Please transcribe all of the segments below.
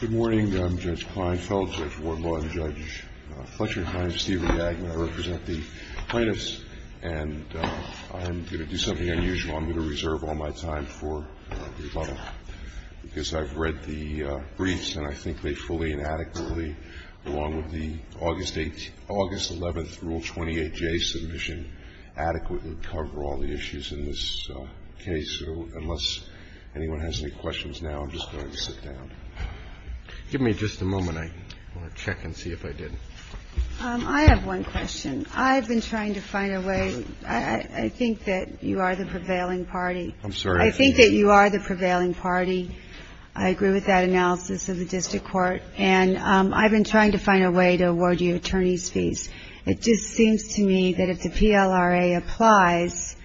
Good morning, I'm Judge Kleinfeld, Judge Wardlaw, and Judge Fletcher. My name is Stephen Yag, and I represent the plaintiffs. And I'm going to do something unusual. I'm going to reserve all my time for rebuttal because I've read the briefs, and I think they fully and adequately, along with the August 11th Rule 28J submission, adequately cover all the issues in this case. So unless anyone has any questions now, I'm just going to sit down. Give me just a moment. I want to check and see if I did. I have one question. I've been trying to find a way. I think that you are the prevailing party. I'm sorry? I think that you are the prevailing party. I agree with that analysis of the district court. And I've been trying to find a way to award you attorney's fees. It just seems to me that if the PLRA applies,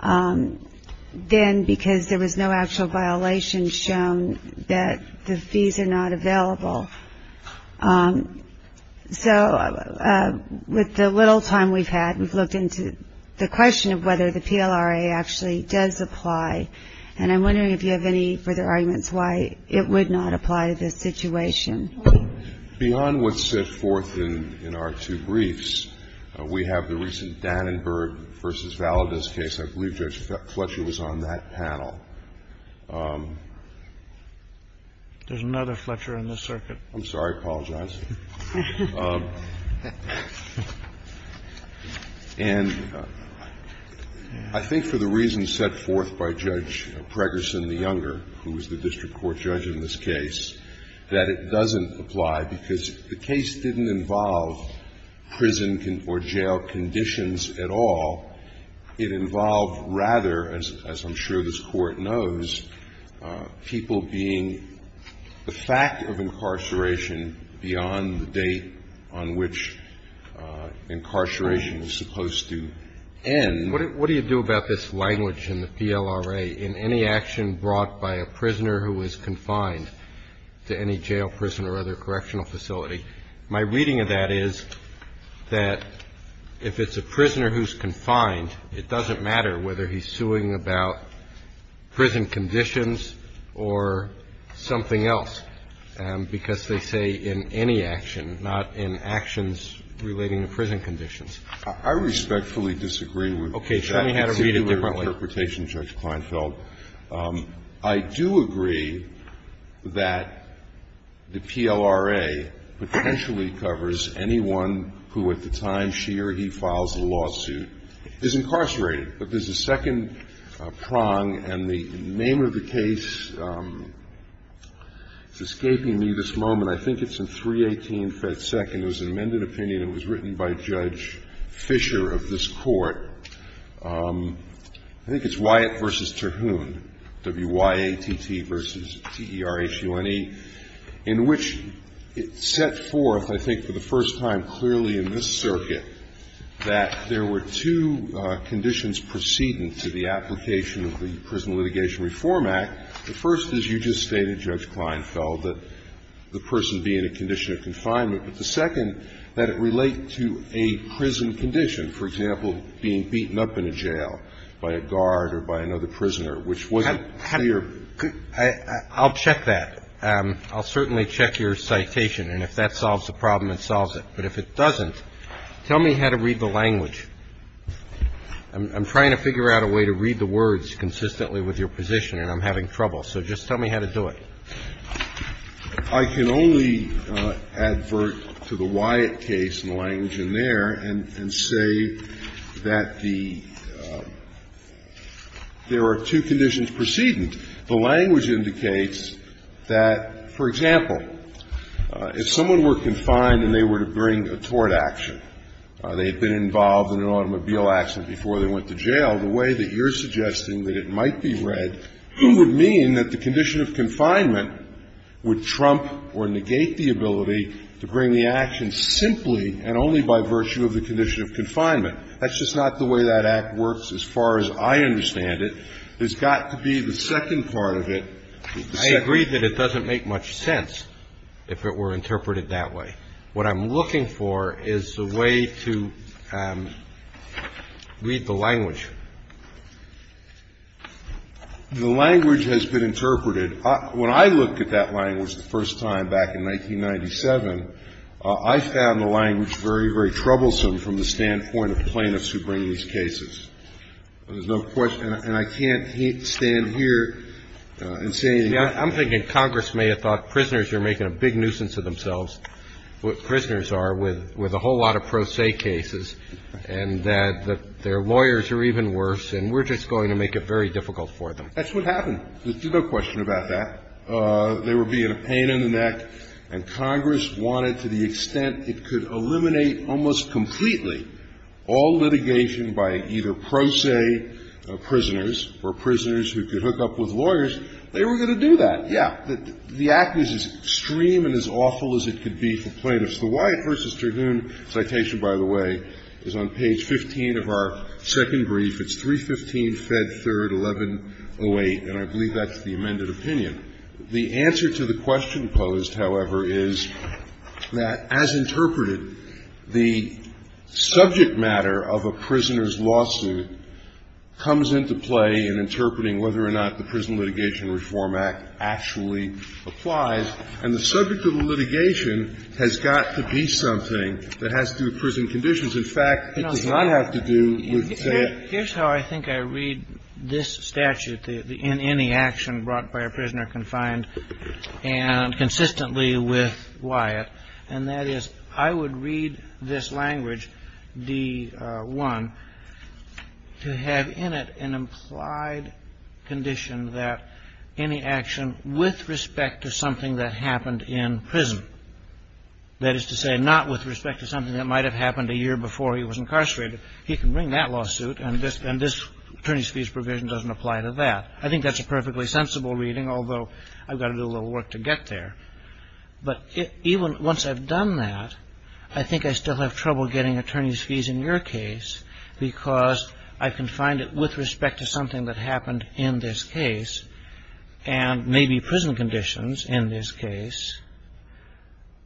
then because there was no actual violation shown, that the fees are not available. So with the little time we've had, we've looked into the question of whether the PLRA actually does apply. And I'm wondering if you have any further arguments why it would not apply to this situation. Beyond what's set forth in our two briefs, we have the recent Dannenberg v. Valadez case. I believe Judge Fletcher was on that panel. There's another Fletcher in this circuit. I'm sorry. I apologize. And I think for the reasons set forth by Judge Preggerson, the younger, who was the case didn't involve prison or jail conditions at all. It involved rather, as I'm sure this Court knows, people being the fact of incarceration beyond the date on which incarceration is supposed to end. What do you do about this language in the PLRA in any action brought by a prisoner who is confined to any jail, prison or other correctional facility? My reading of that is that if it's a prisoner who's confined, it doesn't matter whether he's suing about prison conditions or something else, because they say in any action, not in actions relating to prison conditions. I respectfully disagree with that. Show me how to read it differently. It's a different interpretation, Judge Kleinfeld. I do agree that the PLRA potentially covers anyone who at the time she or he files a lawsuit is incarcerated. But there's a second prong, and the name of the case is escaping me this moment. I think it's in 318 Fed Second. It was an amended opinion. It was written by Judge Fisher of this Court. I think it's Wyatt v. Terhune, W-Y-A-T-T v. T-E-R-H-U-N-E, in which it set forth, I think, for the first time clearly in this circuit that there were two conditions precedent to the application of the Prison Litigation Reform Act. The first is, you just stated, Judge Kleinfeld, that the person be in a condition of confinement. But the second, that it relate to a prison condition, for example, being beaten up in a jail by a guard or by another prisoner, which wasn't clear. I'll check that. I'll certainly check your citation, and if that solves the problem, it solves it. But if it doesn't, tell me how to read the language. I'm trying to figure out a way to read the words consistently with your position, and I'm having trouble. So just tell me how to do it. I can only advert to the Wyatt case and the language in there and say that the there are two conditions precedent. The language indicates that, for example, if someone were confined and they were to bring a tort action, they had been involved in an automobile accident before they went to jail, the way that you're suggesting that it might be read would mean that the condition of confinement would trump or negate the ability to bring the action simply and only by virtue of the condition of confinement. That's just not the way that act works as far as I understand it. There's got to be the second part of it. I agree that it doesn't make much sense if it were interpreted that way. What I'm looking for is a way to read the language. The language has been interpreted. When I looked at that language the first time back in 1997, I found the language very, very troublesome from the standpoint of plaintiffs who bring these cases. There's no question. And I can't stand here and say anything. I'm thinking Congress may have thought prisoners are making a big nuisance of themselves, what prisoners are with a whole lot of pro se cases and that their lawyers are even worse and we're just going to make it very difficult for them. That's what happened. There's no question about that. They were being a pain in the neck. And Congress wanted to the extent it could eliminate almost completely all litigation by either pro se prisoners or prisoners who could hook up with lawyers, they were going to do that. But, yeah, the act was as extreme and as awful as it could be for plaintiffs. The Wyatt v. Terhune citation, by the way, is on page 15 of our second brief. It's 315 Fed 3rd, 1108, and I believe that's the amended opinion. The answer to the question posed, however, is that as interpreted, the subject matter of a prisoner's lawsuit comes into play in interpreting whether or not the Prison Act actually applies, and the subject of a litigation has got to be something that has to do with prison conditions. In fact, it does not have to do with, say, a prison. Kennedy. Here's how I think I read this statute, the in any action brought by a prisoner confined, and consistently with Wyatt, and that is I would read this language, D1, to have in it an implied condition that any action with respect to something that happened in prison, that is to say not with respect to something that might have happened a year before he was incarcerated, he can bring that lawsuit, and this attorney's fees provision doesn't apply to that. I think that's a perfectly sensible reading, although I've got to do a little work to get there. But even once I've done that, I think I still have trouble getting attorney's fees in your case, because I can find it with respect to something that happened in this case, and maybe prison conditions in this case.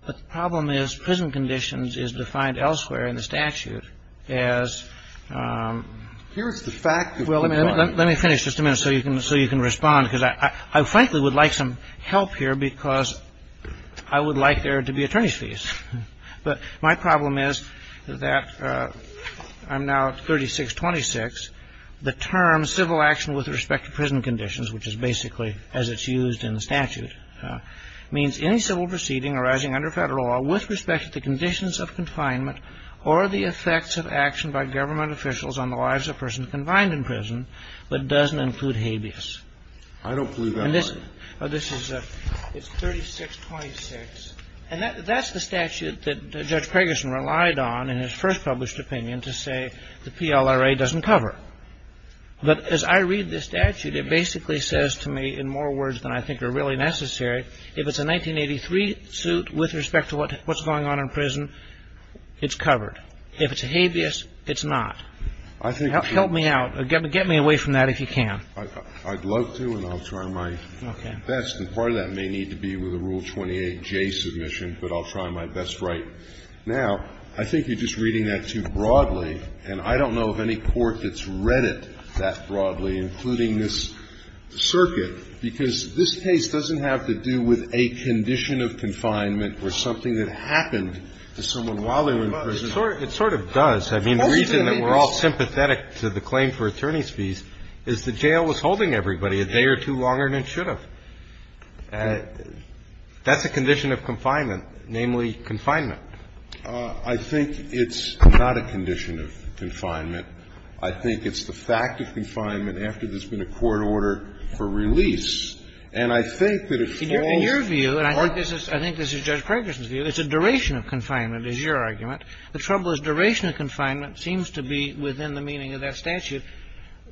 But the problem is prison conditions is defined elsewhere in the statute as the fact that people are. Well, let me finish just a minute so you can respond, because I frankly would like some help here, because I would like there to be attorney's fees. But my problem is that I'm now at 3626. The term civil action with respect to prison conditions, which is basically as it's used in the statute, means any civil proceeding arising under Federal law with respect to the conditions of confinement or the effects of action by government officials on the lives of persons confined in prison, but doesn't include habeas. I don't believe that's right. And this is 3626. And that's the statute that Judge Craigerson relied on in his first published opinion to say the PLRA doesn't cover. But as I read this statute, it basically says to me in more words than I think are really necessary, if it's a 1983 suit with respect to what's going on in prison, it's covered. If it's a habeas, it's not. Help me out. Get me away from that if you can. I'd love to, and I'll try my best. And part of that may need to be with a Rule 28J submission, but I'll try my best right now. I think you're just reading that too broadly, and I don't know of any court that's read it that broadly, including this circuit, because this case doesn't have to do with a condition of confinement or something that happened to someone while they were in prison. It sort of does. I mean, the reason that we're all sympathetic to the claim for attorney's fees is the jail was holding everybody a day or two longer than it should have. That's a condition of confinement, namely confinement. I think it's not a condition of confinement. I think it's the fact of confinement after there's been a court order for release. And I think that if it falls or not. In your view, and I think this is Judge Craigerson's view, it's a duration of confinement, is your argument. The trouble is duration of confinement seems to be within the meaning of that statute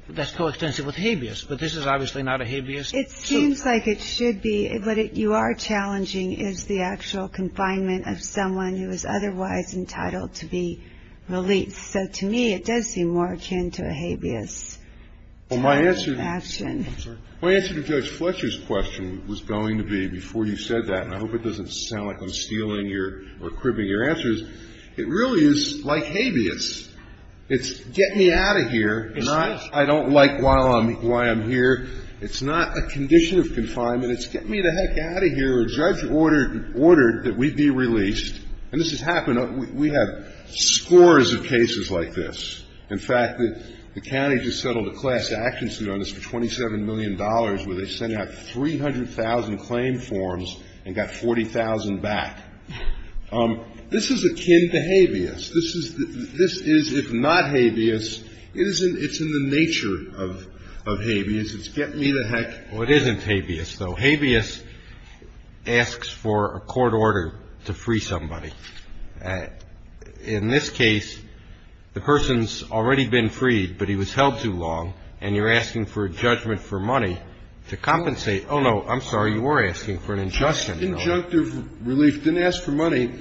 that's coextensive with habeas. But this is obviously not a habeas. It seems like it should be. What you are challenging is the actual confinement of someone who is otherwise entitled to be released. So to me, it does seem more akin to a habeas type of action. My answer to Judge Fletcher's question was going to be before you said that, and I hope it doesn't sound like I'm stealing or cribbing your answers. It really is like habeas. It's get me out of here. And I don't like why I'm here. It's not a condition of confinement. It's get me the heck out of here. A judge ordered that we be released. And this has happened. We have scores of cases like this. In fact, the county just settled a class action suit on this for $27 million where they sent out 300,000 claim forms and got 40,000 back. This is akin to habeas. This is, if not habeas, it's in the nature of habeas. It's get me the heck out of here. Well, it isn't habeas, though. Habeas asks for a court order to free somebody. In this case, the person's already been freed, but he was held too long, and you're asking for a judgment for money to compensate. Oh, no, I'm sorry. You were asking for an injunction. It was a conjunctive relief. It didn't ask for money.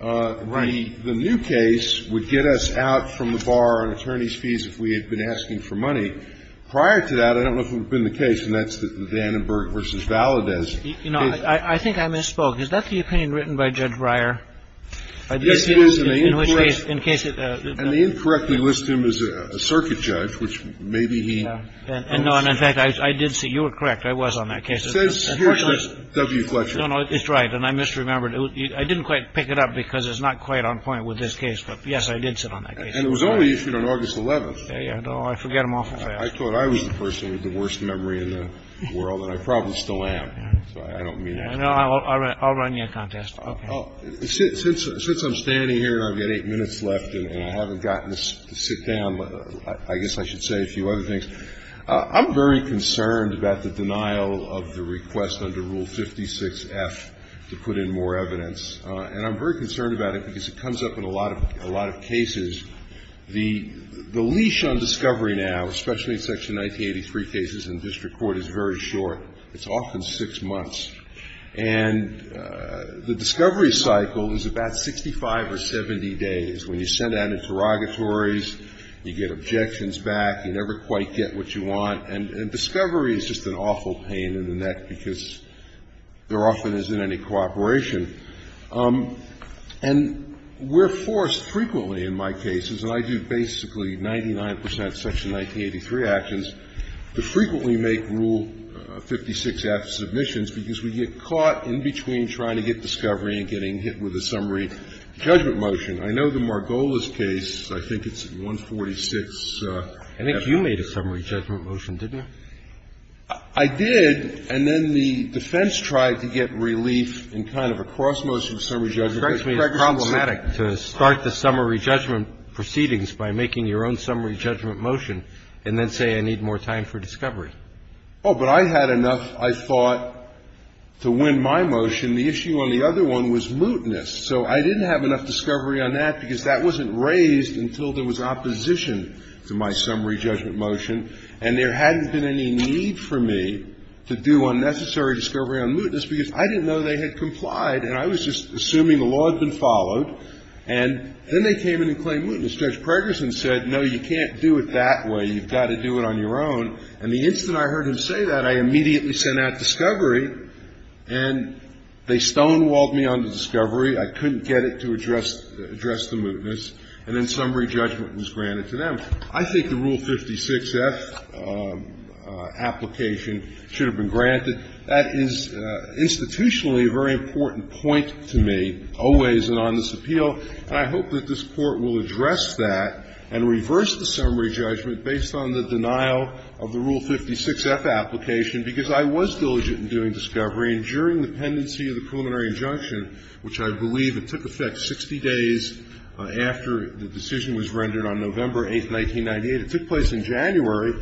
Right. The new case would get us out from the bar on attorney's fees if we had been asking for money. Prior to that, I don't know if it would have been the case, and that's the Vandenberg v. Valadez case. You know, I think I misspoke. Is that the opinion written by Judge Breyer? Yes, it is, and they incorrectly list him as a circuit judge, which maybe he was. And, no, and in fact, I did see. You were correct. I was on that case. It says here, Judge W. Fletcher. No, no, it's right, and I misremembered. I didn't quite pick it up because it's not quite on point with this case, but, yes, I did sit on that case. And it was only issued on August 11th. Oh, I forget them awful fast. I thought I was the person with the worst memory in the world, and I probably still am, so I don't mean to. No, I'll run you a contest. Okay. Since I'm standing here and I've got eight minutes left and I haven't gotten to sit down, I guess I should say a few other things. I'm very concerned about the denial of the request under Rule 56F to put in more evidence, and I'm very concerned about it because it comes up in a lot of cases. The leash on discovery now, especially in Section 1983 cases in district court, is very short. It's often six months. And the discovery cycle is about 65 or 70 days. When you send out interrogatories, you get objections back. You never quite get what you want. And discovery is just an awful pain in the neck because there often isn't any cooperation. And we're forced frequently in my cases, and I do basically 99 percent of Section 1983 actions, to frequently make Rule 56F submissions because we get caught in between trying to get discovery and getting hit with a summary judgment motion. I know the Margolis case, I think it's 146. I think you made a summary judgment motion, didn't you? I did. And then the defense tried to get relief in kind of a cross motion summary judgment motion. It strikes me as problematic to start the summary judgment proceedings by making your own summary judgment motion and then say I need more time for discovery. Oh, but I had enough, I thought, to win my motion. The issue on the other one was mootness. So I didn't have enough discovery on that because that wasn't raised until there was opposition to my summary judgment motion, and there hadn't been any need for me to do unnecessary discovery on mootness because I didn't know they had complied, and I was just assuming the law had been followed. And then they came in and claimed mootness. Judge Pregerson said, no, you can't do it that way. You've got to do it on your own. And the instant I heard him say that, I immediately sent out discovery, and they stonewalled me on the discovery. I couldn't get it to address the mootness. And then summary judgment was granted to them. I think the Rule 56-F application should have been granted. That is institutionally a very important point to me, always in on this appeal, and I hope that this Court will address that and reverse the summary judgment based on the denial of the Rule 56-F application, because I was diligent in doing the pendency of the preliminary injunction, which I believe it took effect 60 days after the decision was rendered on November 8, 1998. It took place in January,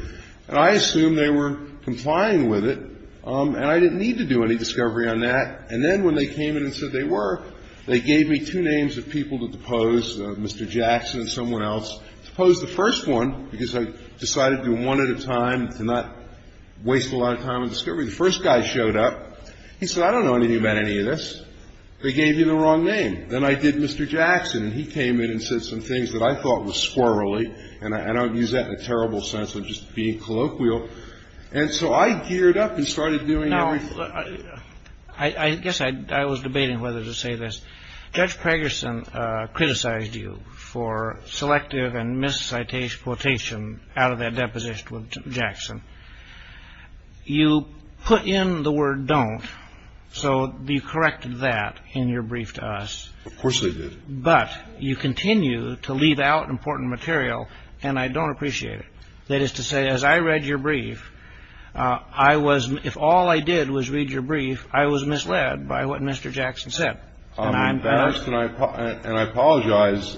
and I assumed they were complying with it, and I didn't need to do any discovery on that. And then when they came in and said they were, they gave me two names of people to depose, Mr. Jackson and someone else. To depose the first one, because I decided to do one at a time, to not waste a lot of time on discovery. The first guy showed up. He said, I don't know anything about any of this. They gave you the wrong name. Then I did Mr. Jackson, and he came in and said some things that I thought were squirrelly, and I don't use that in a terrible sense of just being colloquial. And so I geared up and started doing everything. I guess I was debating whether to say this. Judge Pragerson criticized you for selective and misquotation out of that deposition with Jackson. You put in the word don't, so you corrected that in your brief to us. Of course I did. But you continue to leave out important material, and I don't appreciate it. That is to say, as I read your brief, I was, if all I did was read your brief, I was misled by what Mr. Jackson said. I'm embarrassed, and I apologize.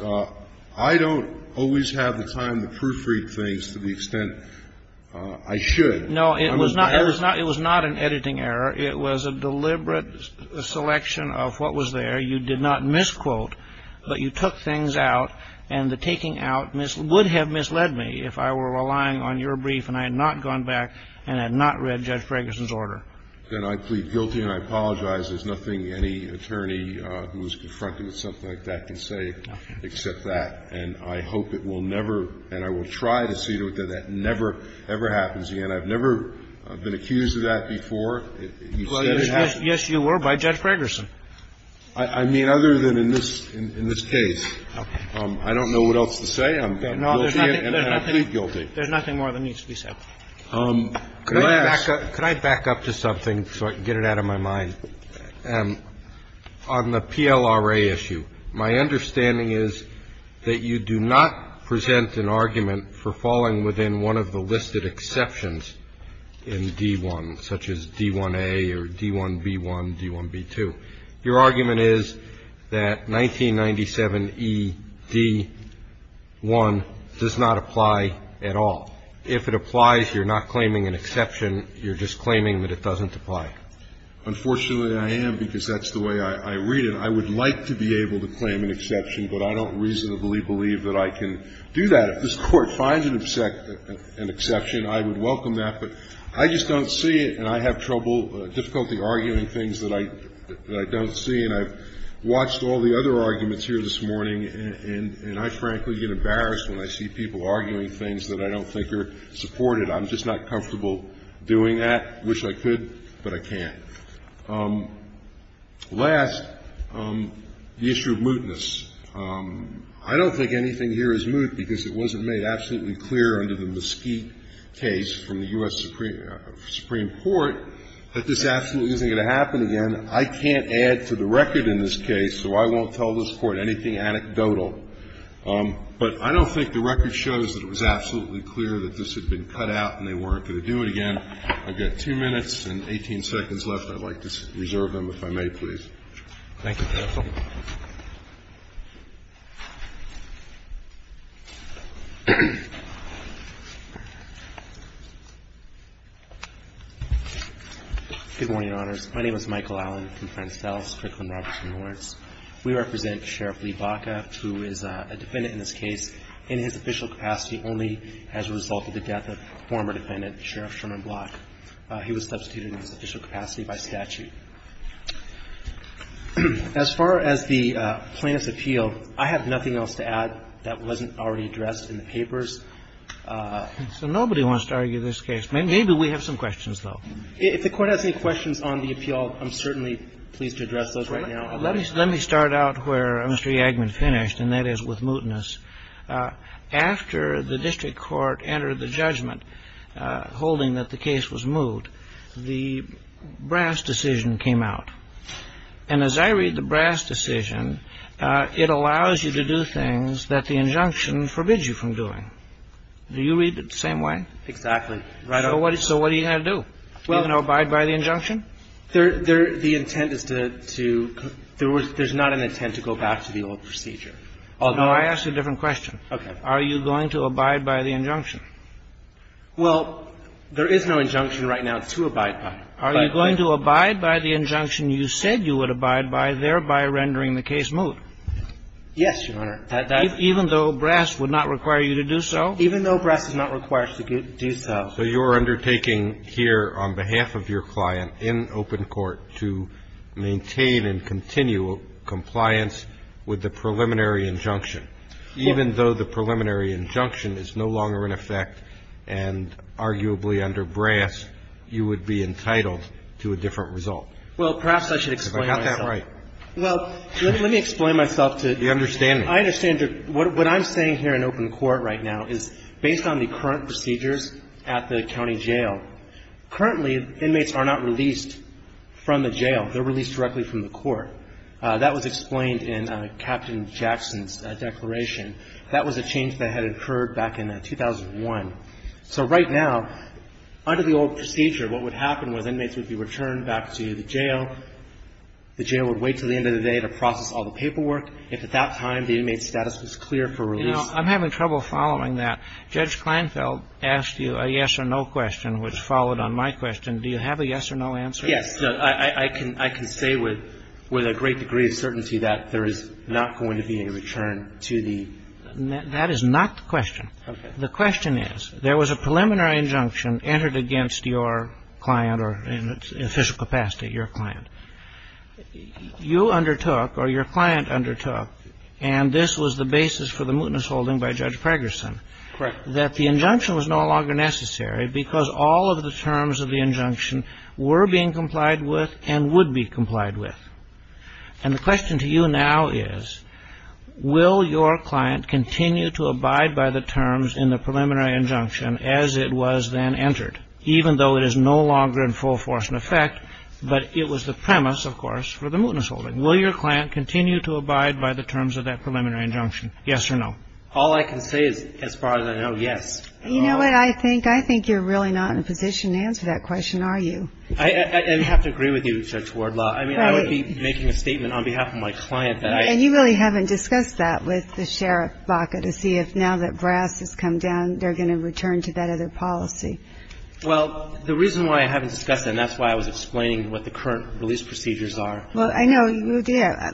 I don't always have the time to proofread things to the extent I should. No, it was not an editing error. It was a deliberate selection of what was there. You did not misquote, but you took things out, and the taking out would have misled me if I were relying on your brief and I had not gone back and had not read Judge Pragerson's order. Then I plead guilty and I apologize. There's nothing any attorney who was confronted with something like that can say except that, and I hope it will never, and I will try to see to it that that never, ever happens again. I've never been accused of that before. You said it happened. Yes, you were by Judge Pragerson. I mean, other than in this case. Okay. I don't know what else to say. I'm guilty and I plead guilty. There's nothing more that needs to be said. Could I back up to something so I can get it out of my mind? On the PLRA issue, my understanding is that you do not present an argument for falling within one of the listed exceptions in D-1, such as D-1A or D-1B-1, D-1B-2. Your argument is that 1997E-D-1 does not apply at all. If it applies, you're not claiming an exception. You're just claiming that it doesn't apply. Unfortunately, I am, because that's the way I read it. I would like to be able to claim an exception, but I don't reasonably believe that I can do that. If this Court finds an exception, I would welcome that, but I just don't see it, and I have trouble, difficulty arguing things that I don't see, and I've watched all the other arguments here this morning, and I frankly get embarrassed when I see people arguing things that I don't think are supported. I'm just not comfortable doing that. I wish I could, but I can't. Last, the issue of mootness. I don't think anything here is moot, because it wasn't made absolutely clear under the Mesquite case from the U.S. Supreme Court that this absolutely isn't going to happen again. I can't add to the record in this case, so I won't tell this Court anything anecdotal. But I don't think the record shows that it was absolutely clear that this had been cut out and they weren't going to do it again. I've got two minutes and 18 seconds left. I'd like to reserve them, if I may, please. Thank you, counsel. Good morning, Your Honors. My name is Michael Allen from Friends Fells, Kirkland, Robertson, and Lawrence. We represent Sheriff Lee Baca, who is a defendant in this case, in his official capacity only as a result of the death of former defendant Sheriff Sherman Block. He was substituted in his official capacity by statute. As far as the plaintiff's appeal, I have nothing else to add that wasn't already addressed in the papers. So nobody wants to argue this case. Maybe we have some questions, though. If the Court has any questions on the appeal, I'm certainly pleased to address those right now. Let me start out where Mr. Yagman finished, and that is with mootness. After the district court entered the judgment holding that the case was moot, the brass decision came out. And as I read the brass decision, it allows you to do things that the injunction forbids you from doing. Do you read it the same way? Exactly. So what are you going to do? You're going to abide by the injunction? There's not an intent to go back to the old procedure. No, I asked a different question. Okay. Are you going to abide by the injunction? Well, there is no injunction right now to abide by. Are you going to abide by the injunction you said you would abide by, thereby rendering the case moot? Yes, Your Honor. Even though brass would not require you to do so? Even though brass is not required to do so. So you're undertaking here on behalf of your client in open court to maintain and continue compliance with the preliminary injunction. Even though the preliminary injunction is no longer in effect, and arguably under brass, you would be entitled to a different result. Well, perhaps I should explain myself. Because I got that right. Well, let me explain myself to you. You understand me. I understand you. What I'm saying here in open court right now is based on the current procedures at the county jail, currently inmates are not released from the jail. They're released directly from the court. That was explained in Captain Jackson's declaration. That was a change that had occurred back in 2001. So right now, under the old procedure, what would happen was inmates would be returned back to the jail. The jail would wait until the end of the day to process all the paperwork. If at that time the inmate's status was clear for release. You know, I'm having trouble following that. Judge Kleinfeld asked you a yes or no question, which followed on my question. Do you have a yes or no answer? Yes. I can say with a great degree of certainty that there is not going to be a return to the. That is not the question. Okay. The question is, there was a preliminary injunction entered against your client or in official capacity, your client. You undertook or your client undertook, and this was the basis for the mootness holding by Judge Fragerson. Correct. That the injunction was no longer necessary because all of the terms of the injunction were being complied with and would be complied with. And the question to you now is, will your client continue to abide by the terms in the preliminary injunction as it was then entered, even though it is no longer in full force and effect, but it was the premise, of course, for the mootness holding. Will your client continue to abide by the terms of that preliminary injunction, yes or no? All I can say is, as far as I know, yes. You know what, I think you're really not in a position to answer that question, are you? I have to agree with you, Judge Wardlaw. I mean, I would be making a statement on behalf of my client that I. And you really haven't discussed that with the sheriff, Baca, to see if now that brass has come down, they're going to return to that other policy. Well, the reason why I haven't discussed that, and that's why I was explaining what the current release procedures are. Well, I know you did. I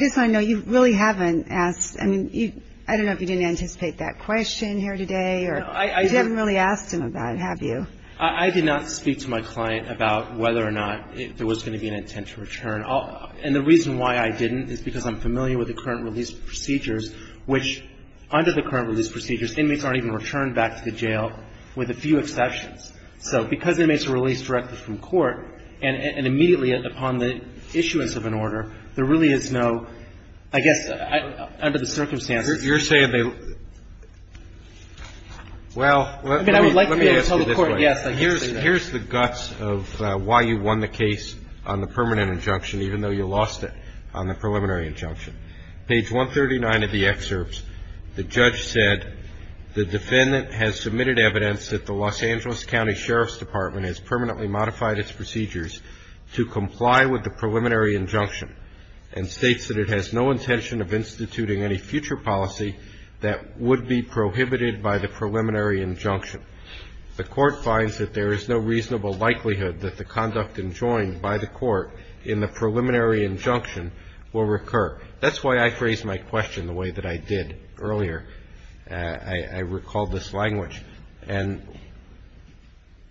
just want to know, you really haven't asked. I mean, I don't know if you didn't anticipate that question here today, or you haven't really asked him about it, have you? I did not speak to my client about whether or not there was going to be an intent to return. And the reason why I didn't is because I'm familiar with the current release procedures, which under the current release procedures, inmates aren't even returned back to the jail, with a few exceptions. So because inmates are released directly from court and immediately upon the issuance of an order, there really is no, I guess, under the circumstances. You're saying they – well, let me ask you this way. I mean, I would like to be able to tell the Court, yes, I can say that. Here's the guts of why you won the case on the permanent injunction, even though you lost it on the preliminary injunction. Page 139 of the excerpts, the judge said, the defendant has submitted evidence that the Los Angeles County Sheriff's Department has permanently modified its procedures to comply with the preliminary injunction and states that it has no intention of instituting any future policy that would be prohibited by the preliminary injunction. The Court finds that there is no reasonable likelihood that the conduct enjoined by the Court in the preliminary injunction will recur. That's why I phrased my question the way that I did earlier. I recalled this language. And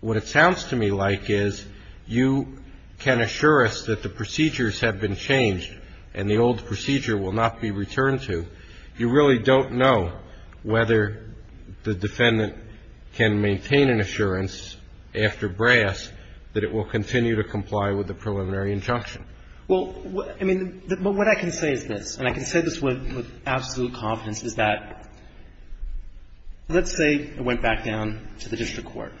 what it sounds to me like is you can assure us that the procedures have been changed and the old procedure will not be returned to. You really don't know whether the defendant can maintain an assurance after brass that it will continue to comply with the preliminary injunction. Well, I mean, what I can say is this, and I can say this with absolute confidence, is that let's say it went back down to the district court.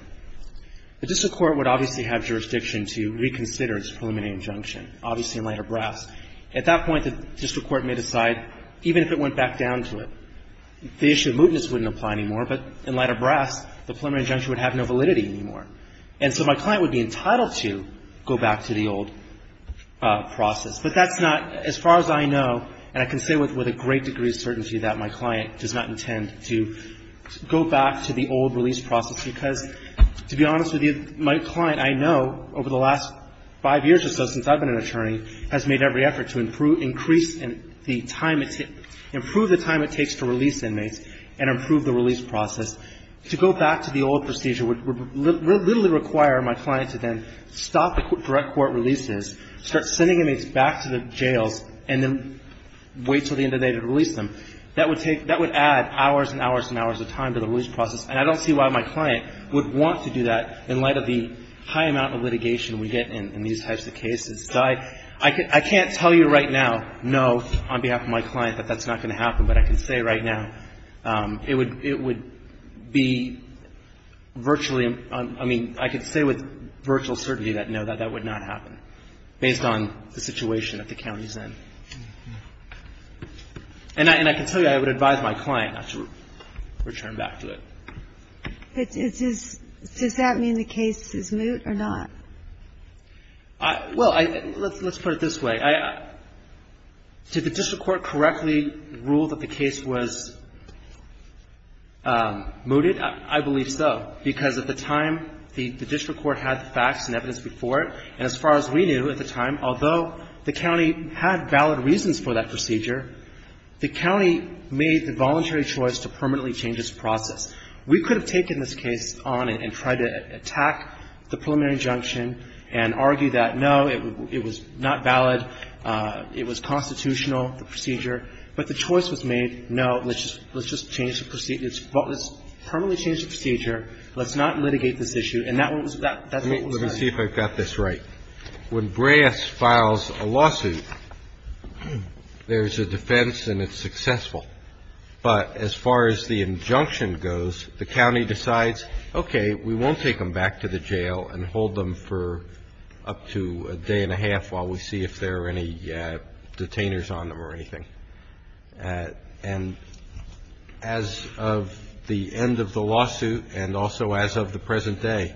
The district court would obviously have jurisdiction to reconsider its preliminary injunction, obviously in light of brass. At that point, the district court may decide, even if it went back down to it, the issue of mootness wouldn't apply anymore, but in light of brass, the preliminary injunction would have no validity anymore. And so my client would be entitled to go back to the old process. But that's not, as far as I know, and I can say with a great degree of certainty that my client does not intend to go back to the old release process, because, to be honest with you, my client, I know, over the last five years or so since I've been an attorney, has made every effort to improve, increase the time, improve the time it takes to release inmates and improve the release process. To go back to the old procedure would literally require my client to then stop the direct court releases, start sending inmates back to the jails, and then wait until the end of the day to release them. That would take, that would add hours and hours and hours of time to the release process, and I don't see why my client would want to do that in light of the high amount of litigation we get in these types of cases. So I can't tell you right now, no, on behalf of my client, that that's not going to happen, but I can say right now. It would be virtually, I mean, I could say with virtual certainty that, no, that that would not happen, based on the situation that the county is in. And I can tell you I would advise my client not to return back to it. But does that mean the case is moot or not? Well, let's put it this way. Did the district court correctly rule that the case was mooted? I believe so, because at the time the district court had the facts and evidence before it, and as far as we knew at the time, although the county had valid reasons for that procedure, the county made the voluntary choice to permanently change this process. We could have taken this case on and tried to attack the preliminary injunction and argue that, no, it was not valid. It was constitutional, the procedure. But the choice was made, no, let's just change the procedure. Let's permanently change the procedure. Let's not litigate this issue. And that's what was done. Let me see if I've got this right. When Breas files a lawsuit, there's a defense and it's successful. But as far as the injunction goes, the county decides, okay, we won't take them back to the jail and hold them for up to a day and a half while we see if there are any detainers on them or anything. And as of the end of the lawsuit and also as of the present day,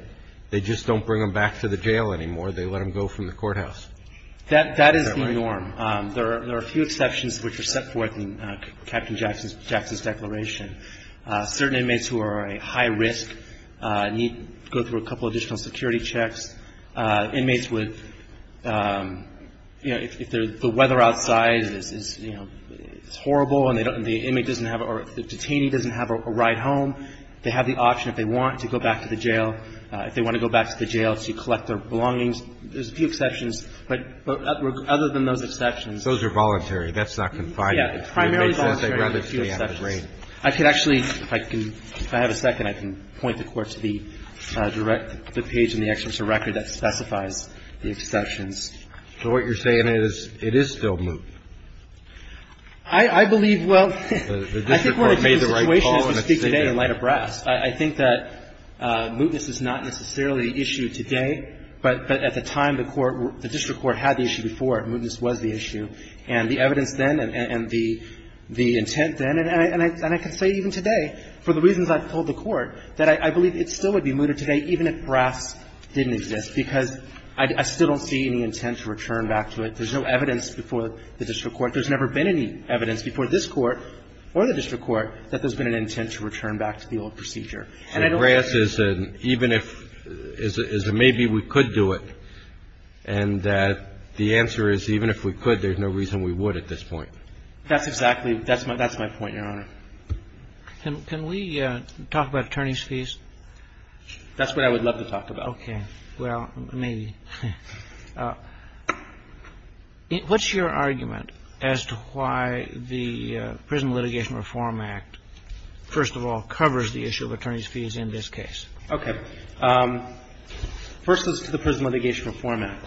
they just don't bring them back to the jail anymore. They let them go from the courthouse. That is the norm. There are a few exceptions which are set forth in Captain Jackson's declaration. Certain inmates who are a high risk need to go through a couple additional security checks. Inmates with, you know, if the weather outside is, you know, it's horrible and the inmate doesn't have or the detainee doesn't have a ride home, they have the option if they want to go back to the jail. If they want to go back to the jail to collect their belongings, there's a few exceptions. But other than those exceptions. Those are voluntary. That's not confiding. Yeah. I could actually, if I can, if I have a second, I can point the Court to the direct, the page in the Executive Record that specifies the exceptions. So what you're saying is it is still moot? I believe, well, I think what the situation is to speak today in light of brass. I think that mootness is not necessarily the issue today. But at the time the court, the district court had the issue before, mootness was the issue. And the evidence then and the intent then, and I can say even today, for the reasons I've told the Court, that I believe it still would be mooted today even if brass didn't exist, because I still don't see any intent to return back to it. There's no evidence before the district court. There's never been any evidence before this Court or the district court that there's been an intent to return back to the old procedure. And I don't think it's moot. So brass is an even if, is a maybe we could do it. And the answer is even if we could, there's no reason we would at this point. That's exactly, that's my point, Your Honor. Can we talk about attorney's fees? That's what I would love to talk about. Okay. Well, maybe. What's your argument as to why the Prison Litigation Reform Act, first of all, covers the issue of attorney's fees in this case? Okay. First, let's look at the Prison Litigation Reform Act.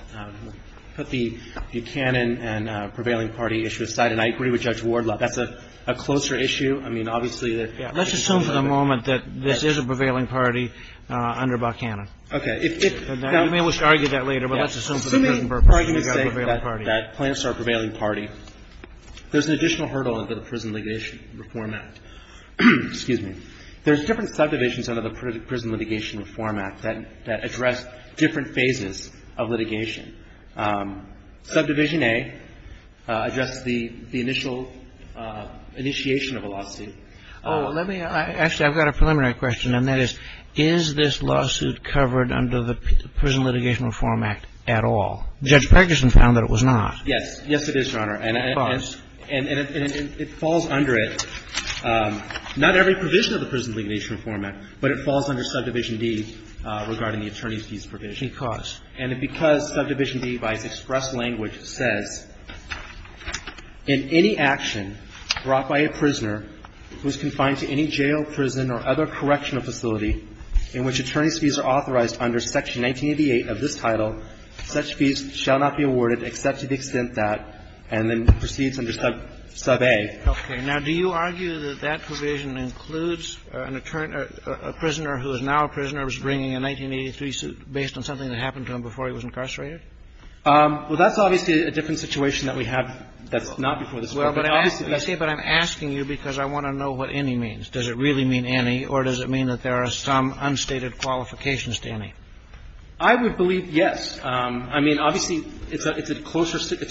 Put the Buchanan and prevailing party issue aside, and I agree with Judge Wardlove. That's a closer issue. I mean, obviously, there's a concern about that. Let's assume for the moment that this is a prevailing party under Buchanan. Okay. You may wish to argue that later, but let's assume for the present purpose that you've got a prevailing party. Let me argue to say that Plants are a prevailing party. There's an additional hurdle under the Prison Litigation Reform Act. Excuse me. There's different subdivisions under the Prison Litigation Reform Act that address different phases of litigation. Subdivision A addresses the initial initiation of a lawsuit. Oh, let me ask you. I've got a preliminary question, and that is, is this lawsuit covered under the Prison Litigation Reform Act at all? Judge Perguson found that it was not. Yes. Yes, it is, Your Honor. And it falls under it. Not every provision of the Prison Litigation Reform Act, but it falls under Subdivision D regarding the attorney's fees provision. Because? And because Subdivision D, by its express language, says, In any action brought by a prisoner who is confined to any jail, prison, or other correctional facility in which attorney's fees are authorized under Section 1988 of this title, such fees shall not be awarded except to the extent that, and then proceeds under Sub A. Okay. Now, do you argue that that provision includes an attorney or a prisoner who is now a prisoner who's bringing a 1983 suit based on something that happened to him before he was incarcerated? Well, that's obviously a different situation that we have that's not before this Court. Well, but I'm asking you because I want to know what any means. Does it really mean any, or does it mean that there are some unstated qualifications to any? I would believe yes. I mean, obviously, it's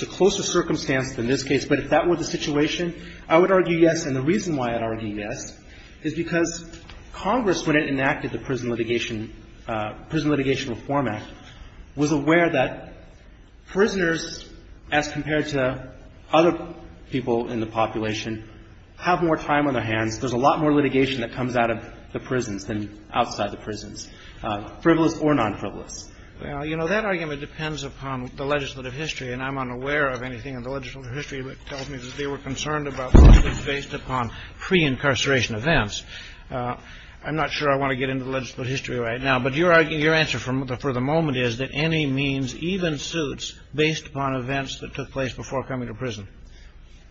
a closer circumstance than this case. But if that were the situation, I would argue yes. And the reason why I'd argue yes is because Congress, when it enacted the Prison Litigation Reform Act, was aware that prisoners, as compared to other people in the population, have more time on their hands, there's a lot more litigation that comes out of the prisons than outside the prisons, frivolous or nonfrivolous. Well, you know, that argument depends upon the legislative history, and I'm unaware of anything in the legislative history that tells me that they were concerned about lawsuits based upon pre-incarceration events. I'm not sure I want to get into the legislative history right now, but your answer for the moment is that any means, even suits, based upon events that took place before coming to prison,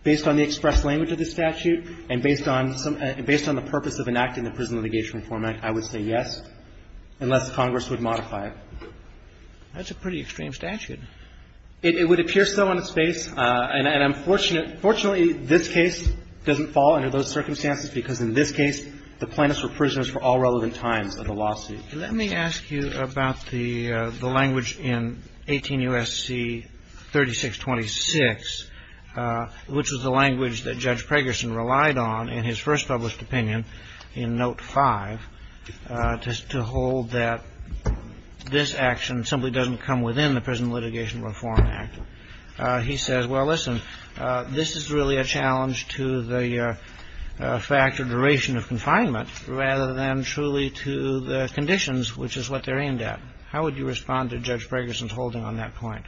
based on the express language of the statute and based on the purpose of enacting the Prison Litigation Reform Act, I would say yes, unless Congress would modify it. That's a pretty extreme statute. It would appear so on its face, and I'm fortunate, fortunately, this case doesn't fall under those circumstances, because in this case, the plaintiffs were prisoners for all relevant times of the lawsuit. Let me ask you about the language in 18 U.S.C. 3626, which was the language that Judge Pregerson relied on in his first published opinion in Note 5, to hold that this action simply doesn't come within the Prison Litigation Reform Act. He says, well, listen, this is really a challenge to the fact of duration of confinement rather than truly to the conditions, which is what they're aimed at. How would you respond to Judge Pregerson's holding on that point?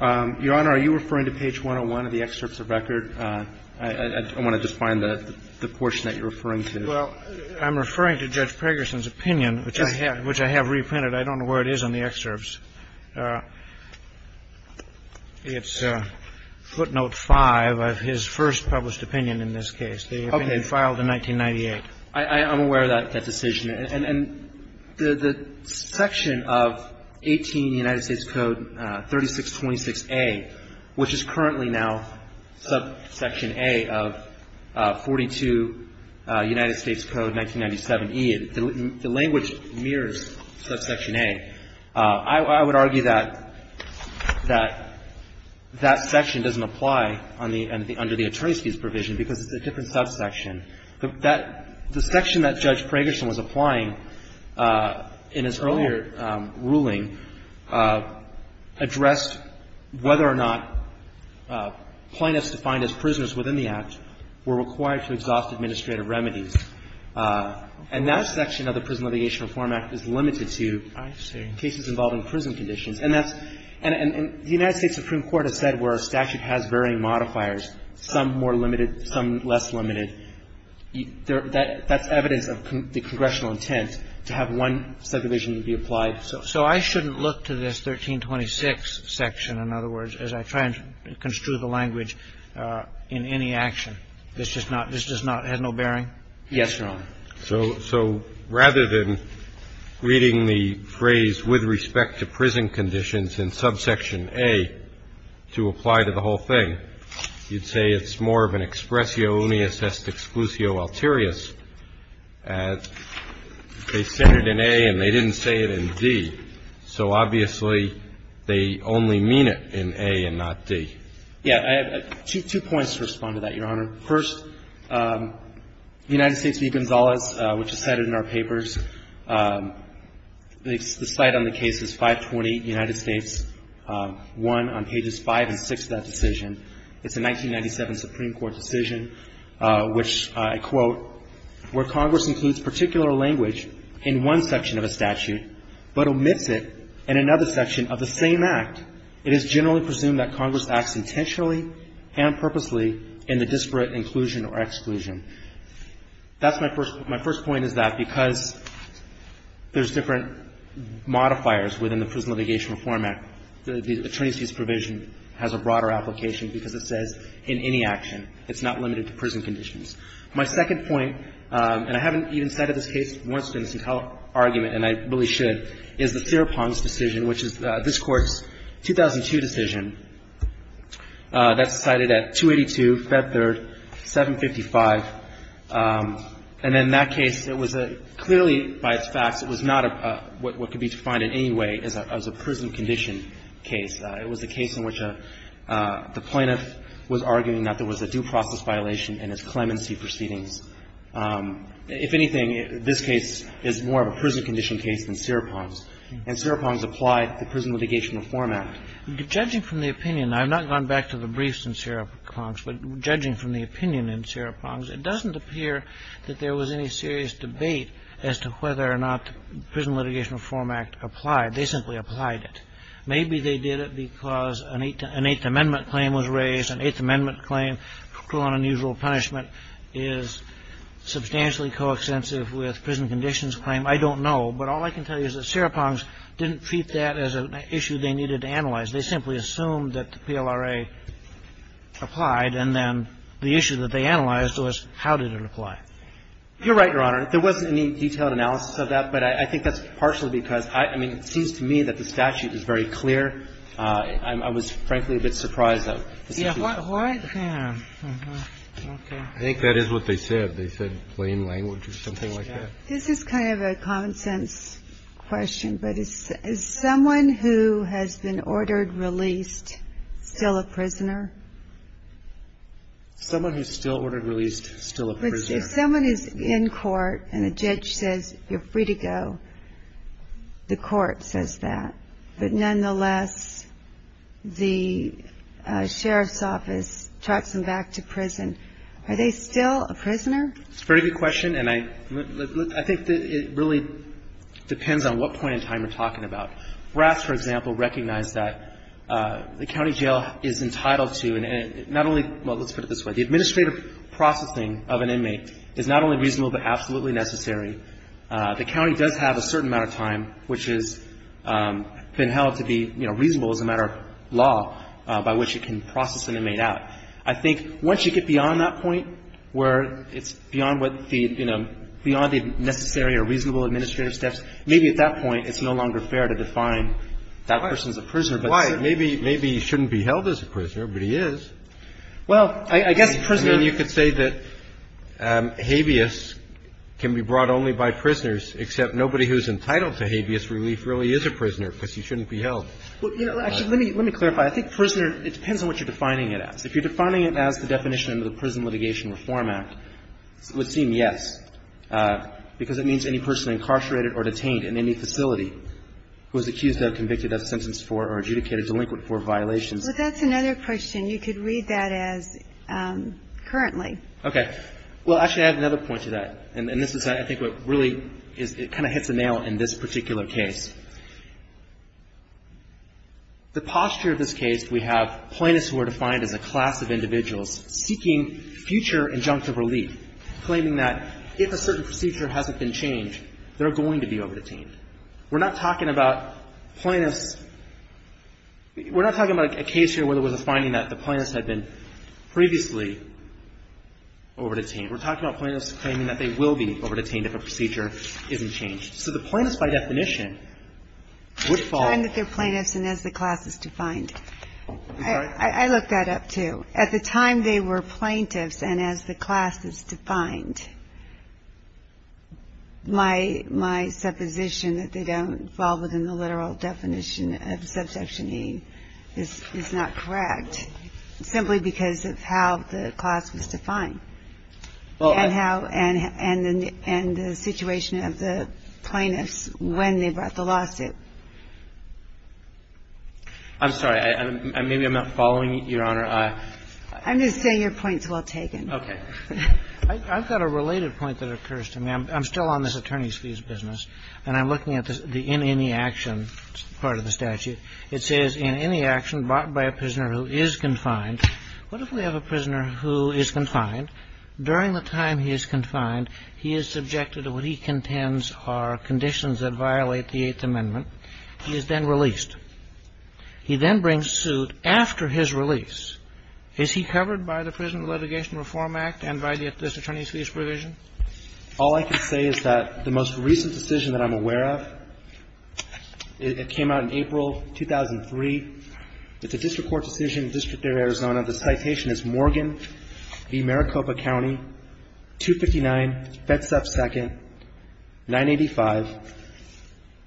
Your Honor, are you referring to page 101 of the excerpts of record? I want to just find the portion that you're referring to. Well, I'm referring to Judge Pregerson's opinion, which I have reprinted. I don't know where it is on the excerpts. It's footnote 5 of his first published opinion in this case, the opinion filed in 1998. I'm aware of that decision. And the section of 18 United States Code 3626a, which is currently now subsection A of 42 United States Code 1997e, the language mirrors subsection A. I would argue that that section doesn't apply under the attorney's fees provision because it's a different subsection. The section that Judge Pregerson was applying in his earlier ruling addressed whether or not plaintiffs defined as prisoners within the Act were required to exhaust administrative remedies. And that section of the Prison Litigation Reform Act is limited to cases involving prison conditions. And that's the United States Supreme Court has said where a statute has varying modifiers, some more limited, some less limited. That's evidence of the congressional intent to have one subdivision be applied. So I shouldn't look to this 1326 section, in other words, as I try and construe the language in any action. This does not have no bearing? Yes, Your Honor. So rather than reading the phrase with respect to prison conditions in subsection A to apply to the whole thing, you'd say it's more of an expressio unius est exclusio alterius, as they said it in A and they didn't say it in D. So obviously, they only mean it in A and not D. Yeah. I have two points to respond to that, Your Honor. First, United States v. Gonzalez, which is cited in our papers, the site on the case is 520 United States 1 on pages 5 and 6 of that decision. It's a 1997 Supreme Court decision, which I quote, where Congress includes particular language in one section of a statute but omits it in another section of the same act. It is generally presumed that Congress acts intentionally and purposely in the disparate inclusion or exclusion. That's my first point. My first point is that because there's different modifiers within the Prison Litigation Reform Act, the attorney's fees provision has a broader application because it says in any action, it's not limited to prison conditions. My second point, and I haven't even cited this case once in this entire argument and I really should, is the Serepon's decision, which is this Court's 2002 decision that's cited at 282, Fed Third, 755. And in that case, it was clearly by its facts, it was not what could be defined in any way as a prison condition case. It was a case in which the plaintiff was arguing that there was a due process violation in his clemency proceedings. If anything, this case is more of a prison condition case than Serepon's. And Serepon's applied the Prison Litigation Reform Act. Judging from the opinion, I've not gone back to the briefs in Serepon's, but judging from the opinion in Serepon's, it doesn't appear that there was any serious debate as to whether or not the Prison Litigation Reform Act applied. They simply applied it. Maybe they did it because an Eighth Amendment claim was raised. An Eighth Amendment claim, cruel and unusual punishment, is substantially coextensive with prison conditions claim. I don't know. But all I can tell you is that Serepon's didn't treat that as an issue they needed to analyze. They simply assumed that the PLRA applied, and then the issue that they analyzed was how did it apply. You're right, Your Honor. There wasn't any detailed analysis of that, but I think that's partially because I mean, it seems to me that the statute is very clear. I was, frankly, a bit surprised that the statute was clear. I think that is what they said. They said plain language or something like that. This is kind of a common sense question, but is someone who has been ordered Someone who's still ordered released is still a prisoner. If someone is in court and a judge says you're free to go, the court says that. But nonetheless, the sheriff's office tracks them back to prison. Are they still a prisoner? It's a very good question, and I think that it really depends on what point in time we're talking about. Brass, for example, recognized that the county jail is entitled to not only Well, let's put it this way. The administrative processing of an inmate is not only reasonable but absolutely necessary. The county does have a certain amount of time which has been held to be, you know, reasonable as a matter of law by which it can process an inmate out. I think once you get beyond that point where it's beyond what the, you know, beyond the necessary or reasonable administrative steps, maybe at that point it's no longer fair to define that person as a prisoner. Why? Maybe he shouldn't be held as a prisoner, but he is. Well, I guess a prisoner I mean, you could say that habeas can be brought only by prisoners, except nobody who's entitled to habeas relief really is a prisoner because he shouldn't be held. Actually, let me clarify. I think prisoner, it depends on what you're defining it as. If you're defining it as the definition under the Prison Litigation Reform Act, it would seem yes, because it means any person incarcerated or detained in any facility who is accused of, convicted of, sentenced for, or adjudicated delinquent for violations But that's another question. You could read that as currently. Okay. Well, actually, I have another point to that, and this is, I think, what really is, it kind of hits the nail in this particular case. The posture of this case, we have plaintiffs who are defined as a class of individuals seeking future injunctive relief, claiming that if a certain procedure hasn't been changed, they're going to be over-detained. We're not talking about plaintiffs – we're not talking about a case here where there was a finding that the plaintiffs had been previously over-detained. We're talking about plaintiffs claiming that they will be over-detained if a procedure isn't changed. So the plaintiffs, by definition, would fall – I'm trying that they're plaintiffs and as the class is defined. I look that up, too. At the time they were plaintiffs and as the class is defined, my supposition that they don't fall within the literal definition of subsection E is not correct, simply because of how the class was defined and how – and the situation of the I'm sorry. Maybe I'm not following, Your Honor. I'm just saying your point's well taken. Okay. I've got a related point that occurs to me. I'm still on this attorney's fees business, and I'm looking at the in any action part of the statute. It says, in any action brought by a prisoner who is confined, what if we have a prisoner who is confined? During the time he is confined, he is subjected to what he contends are conditions that violate the Eighth Amendment. He is then released. He then brings suit after his release. Is he covered by the Prison Litigation Reform Act and by this attorney's fees provision? All I can say is that the most recent decision that I'm aware of, it came out in April 2003. It's a district court decision, District of Arizona. The citation is Morgan v. Maricopa County, 259 Bedsop 2nd, 985.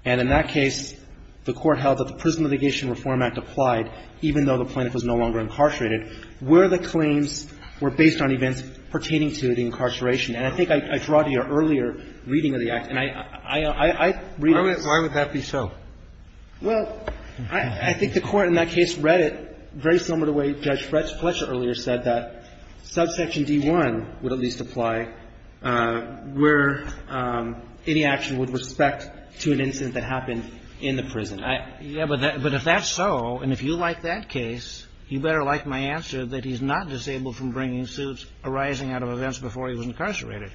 And in that case, the Court held that the Prison Litigation Reform Act applied, even though the plaintiff was no longer incarcerated, where the claims were based on events pertaining to the incarceration. And I think I draw to your earlier reading of the act. And I read it. Why would that be so? Well, I think the Court in that case read it very similar to the way Judge Fletcher earlier said that subsection D1 would at least apply where any action with respect to an incident that happened in the prison. Yeah, but if that's so, and if you like that case, you better like my answer that he's not disabled from bringing suits arising out of events before he was incarcerated.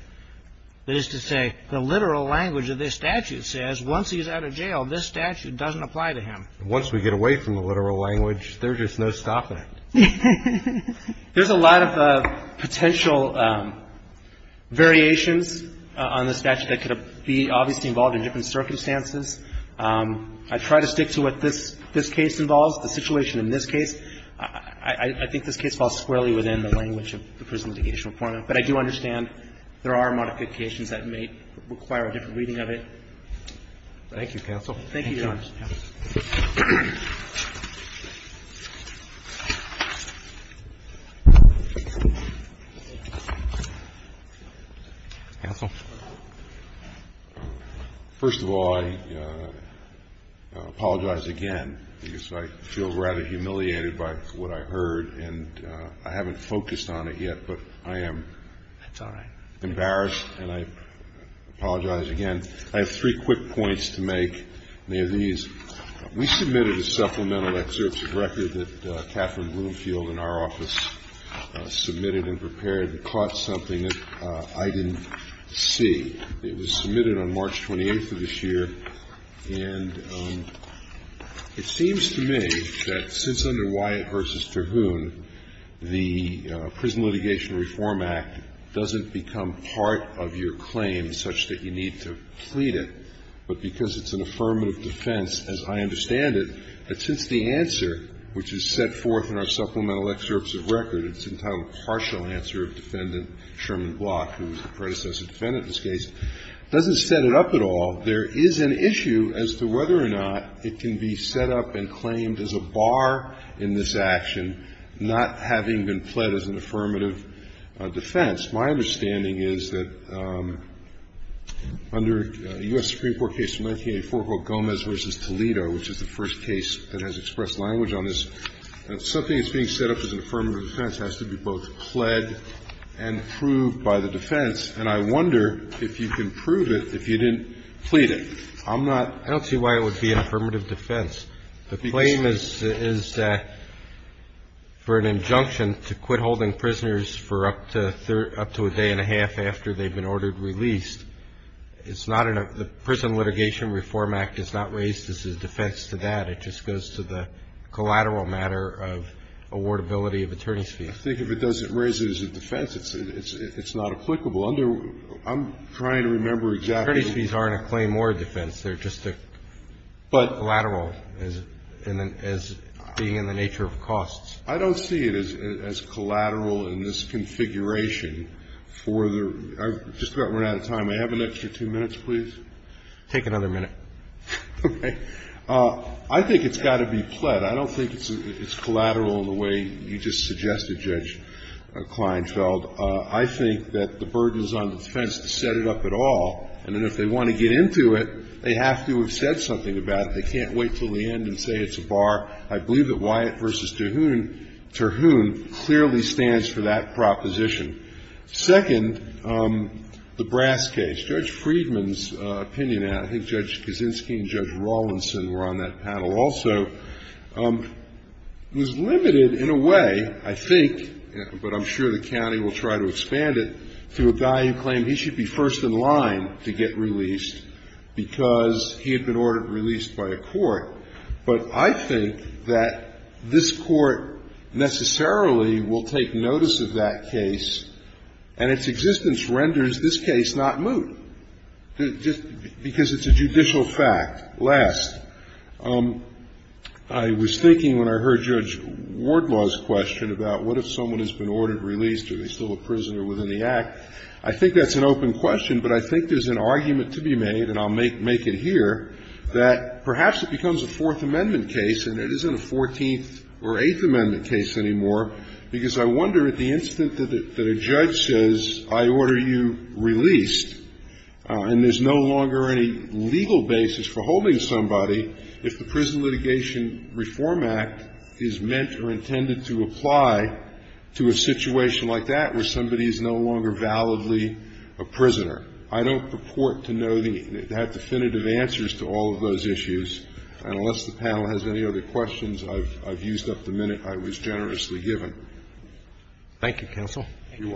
That is to say, the literal language of this statute says once he's out of jail, this statute doesn't apply to him. Once we get away from the literal language, there's just no stopping it. There's a lot of potential variations on this statute that could be obviously involved in different circumstances. I try to stick to what this case involves. The situation in this case, I think this case falls squarely within the language of the Prison Litigation Reform Act. But I do understand there are modifications that may require a different reading of it. Thank you, Counsel. Thank you, Your Honor. Counsel. First of all, I apologize again, because I feel rather humiliated by what I heard. And I haven't focused on it yet, but I am. That's all right. Embarrassed. And I apologize again. I have three quick points to make, and they are these. We submitted a supplemental excerpt to the record that Catherine Bloomfield in our office submitted and prepared that caught something that I didn't see. It was submitted on March 28th of this year. And it seems to me that since under Wyatt v. Terhune, the Prison Litigation Reform Act doesn't become part of your claim such that you need to plead it, but because it's an affirmative defense, as I understand it, that since the answer, which is set forth in our supplemental excerpts of record, it's entitled defendant Sherman Block, who was the predecessor defendant in this case, doesn't set it up at all. There is an issue as to whether or not it can be set up and claimed as a bar in this action, not having been pled as an affirmative defense. My understanding is that under a U.S. Supreme Court case from 1984 called Gomez v. Toledo, which is the first case that has expressed language on this, something that's being set up as an affirmative defense has to be both pled and proved by the defense. And I wonder if you can prove it if you didn't plead it. I'm not ‑‑ I don't see why it would be an affirmative defense. The claim is for an injunction to quit holding prisoners for up to a day and a half after they've been ordered released. It's not in a ‑‑ the Prison Litigation Reform Act is not raised as a defense to that. It just goes to the collateral matter of awardability of attorney's fees. I think if it doesn't raise it as a defense, it's not applicable. I'm trying to remember exactly ‑‑ Attorney's fees aren't a claim or a defense. They're just collateral as being in the nature of costs. I don't see it as collateral in this configuration for the ‑‑ I've just about run out of time. May I have an extra two minutes, please? Take another minute. Okay. I think it's got to be pled. I don't think it's collateral in the way you just suggested, Judge Kleinfeld. I think that the burden is on the defense to set it up at all. And then if they want to get into it, they have to have said something about it. They can't wait until the end and say it's a bar. I believe that Wyatt v. Terhune clearly stands for that proposition. Second, the Brass case. Judge Friedman's opinion, I think Judge Kaczynski and Judge Rawlinson were on that panel also, was limited in a way, I think, but I'm sure the county will try to expand it, to a guy who claimed he should be first in line to get released because he had been ordered to be released by a court. But I think that this court necessarily will take notice of that case, and its existence renders this case not moot, just because it's a judicial fact. Last, I was thinking when I heard Judge Wardlaw's question about what if someone has been ordered released, are they still a prisoner within the Act, I think that's an open question, but I think there's an argument to be made, and I'll make it here, that perhaps it becomes a Fourth Amendment case and it isn't a Fourteenth or Eighth Amendment case. I don't purport to know the definitive answers to all of those issues, and unless the panel has any other questions, I've used up the minute I was generously given. Thank you, counsel. Thank you.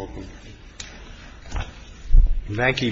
Thank you. Thank you. Thank you. Thank you. Thank you. Thank you. Thank you. The window will be out. Yank me. Thank you. Thank you. The Waggie v. Block is submitted. The Court is adjourned.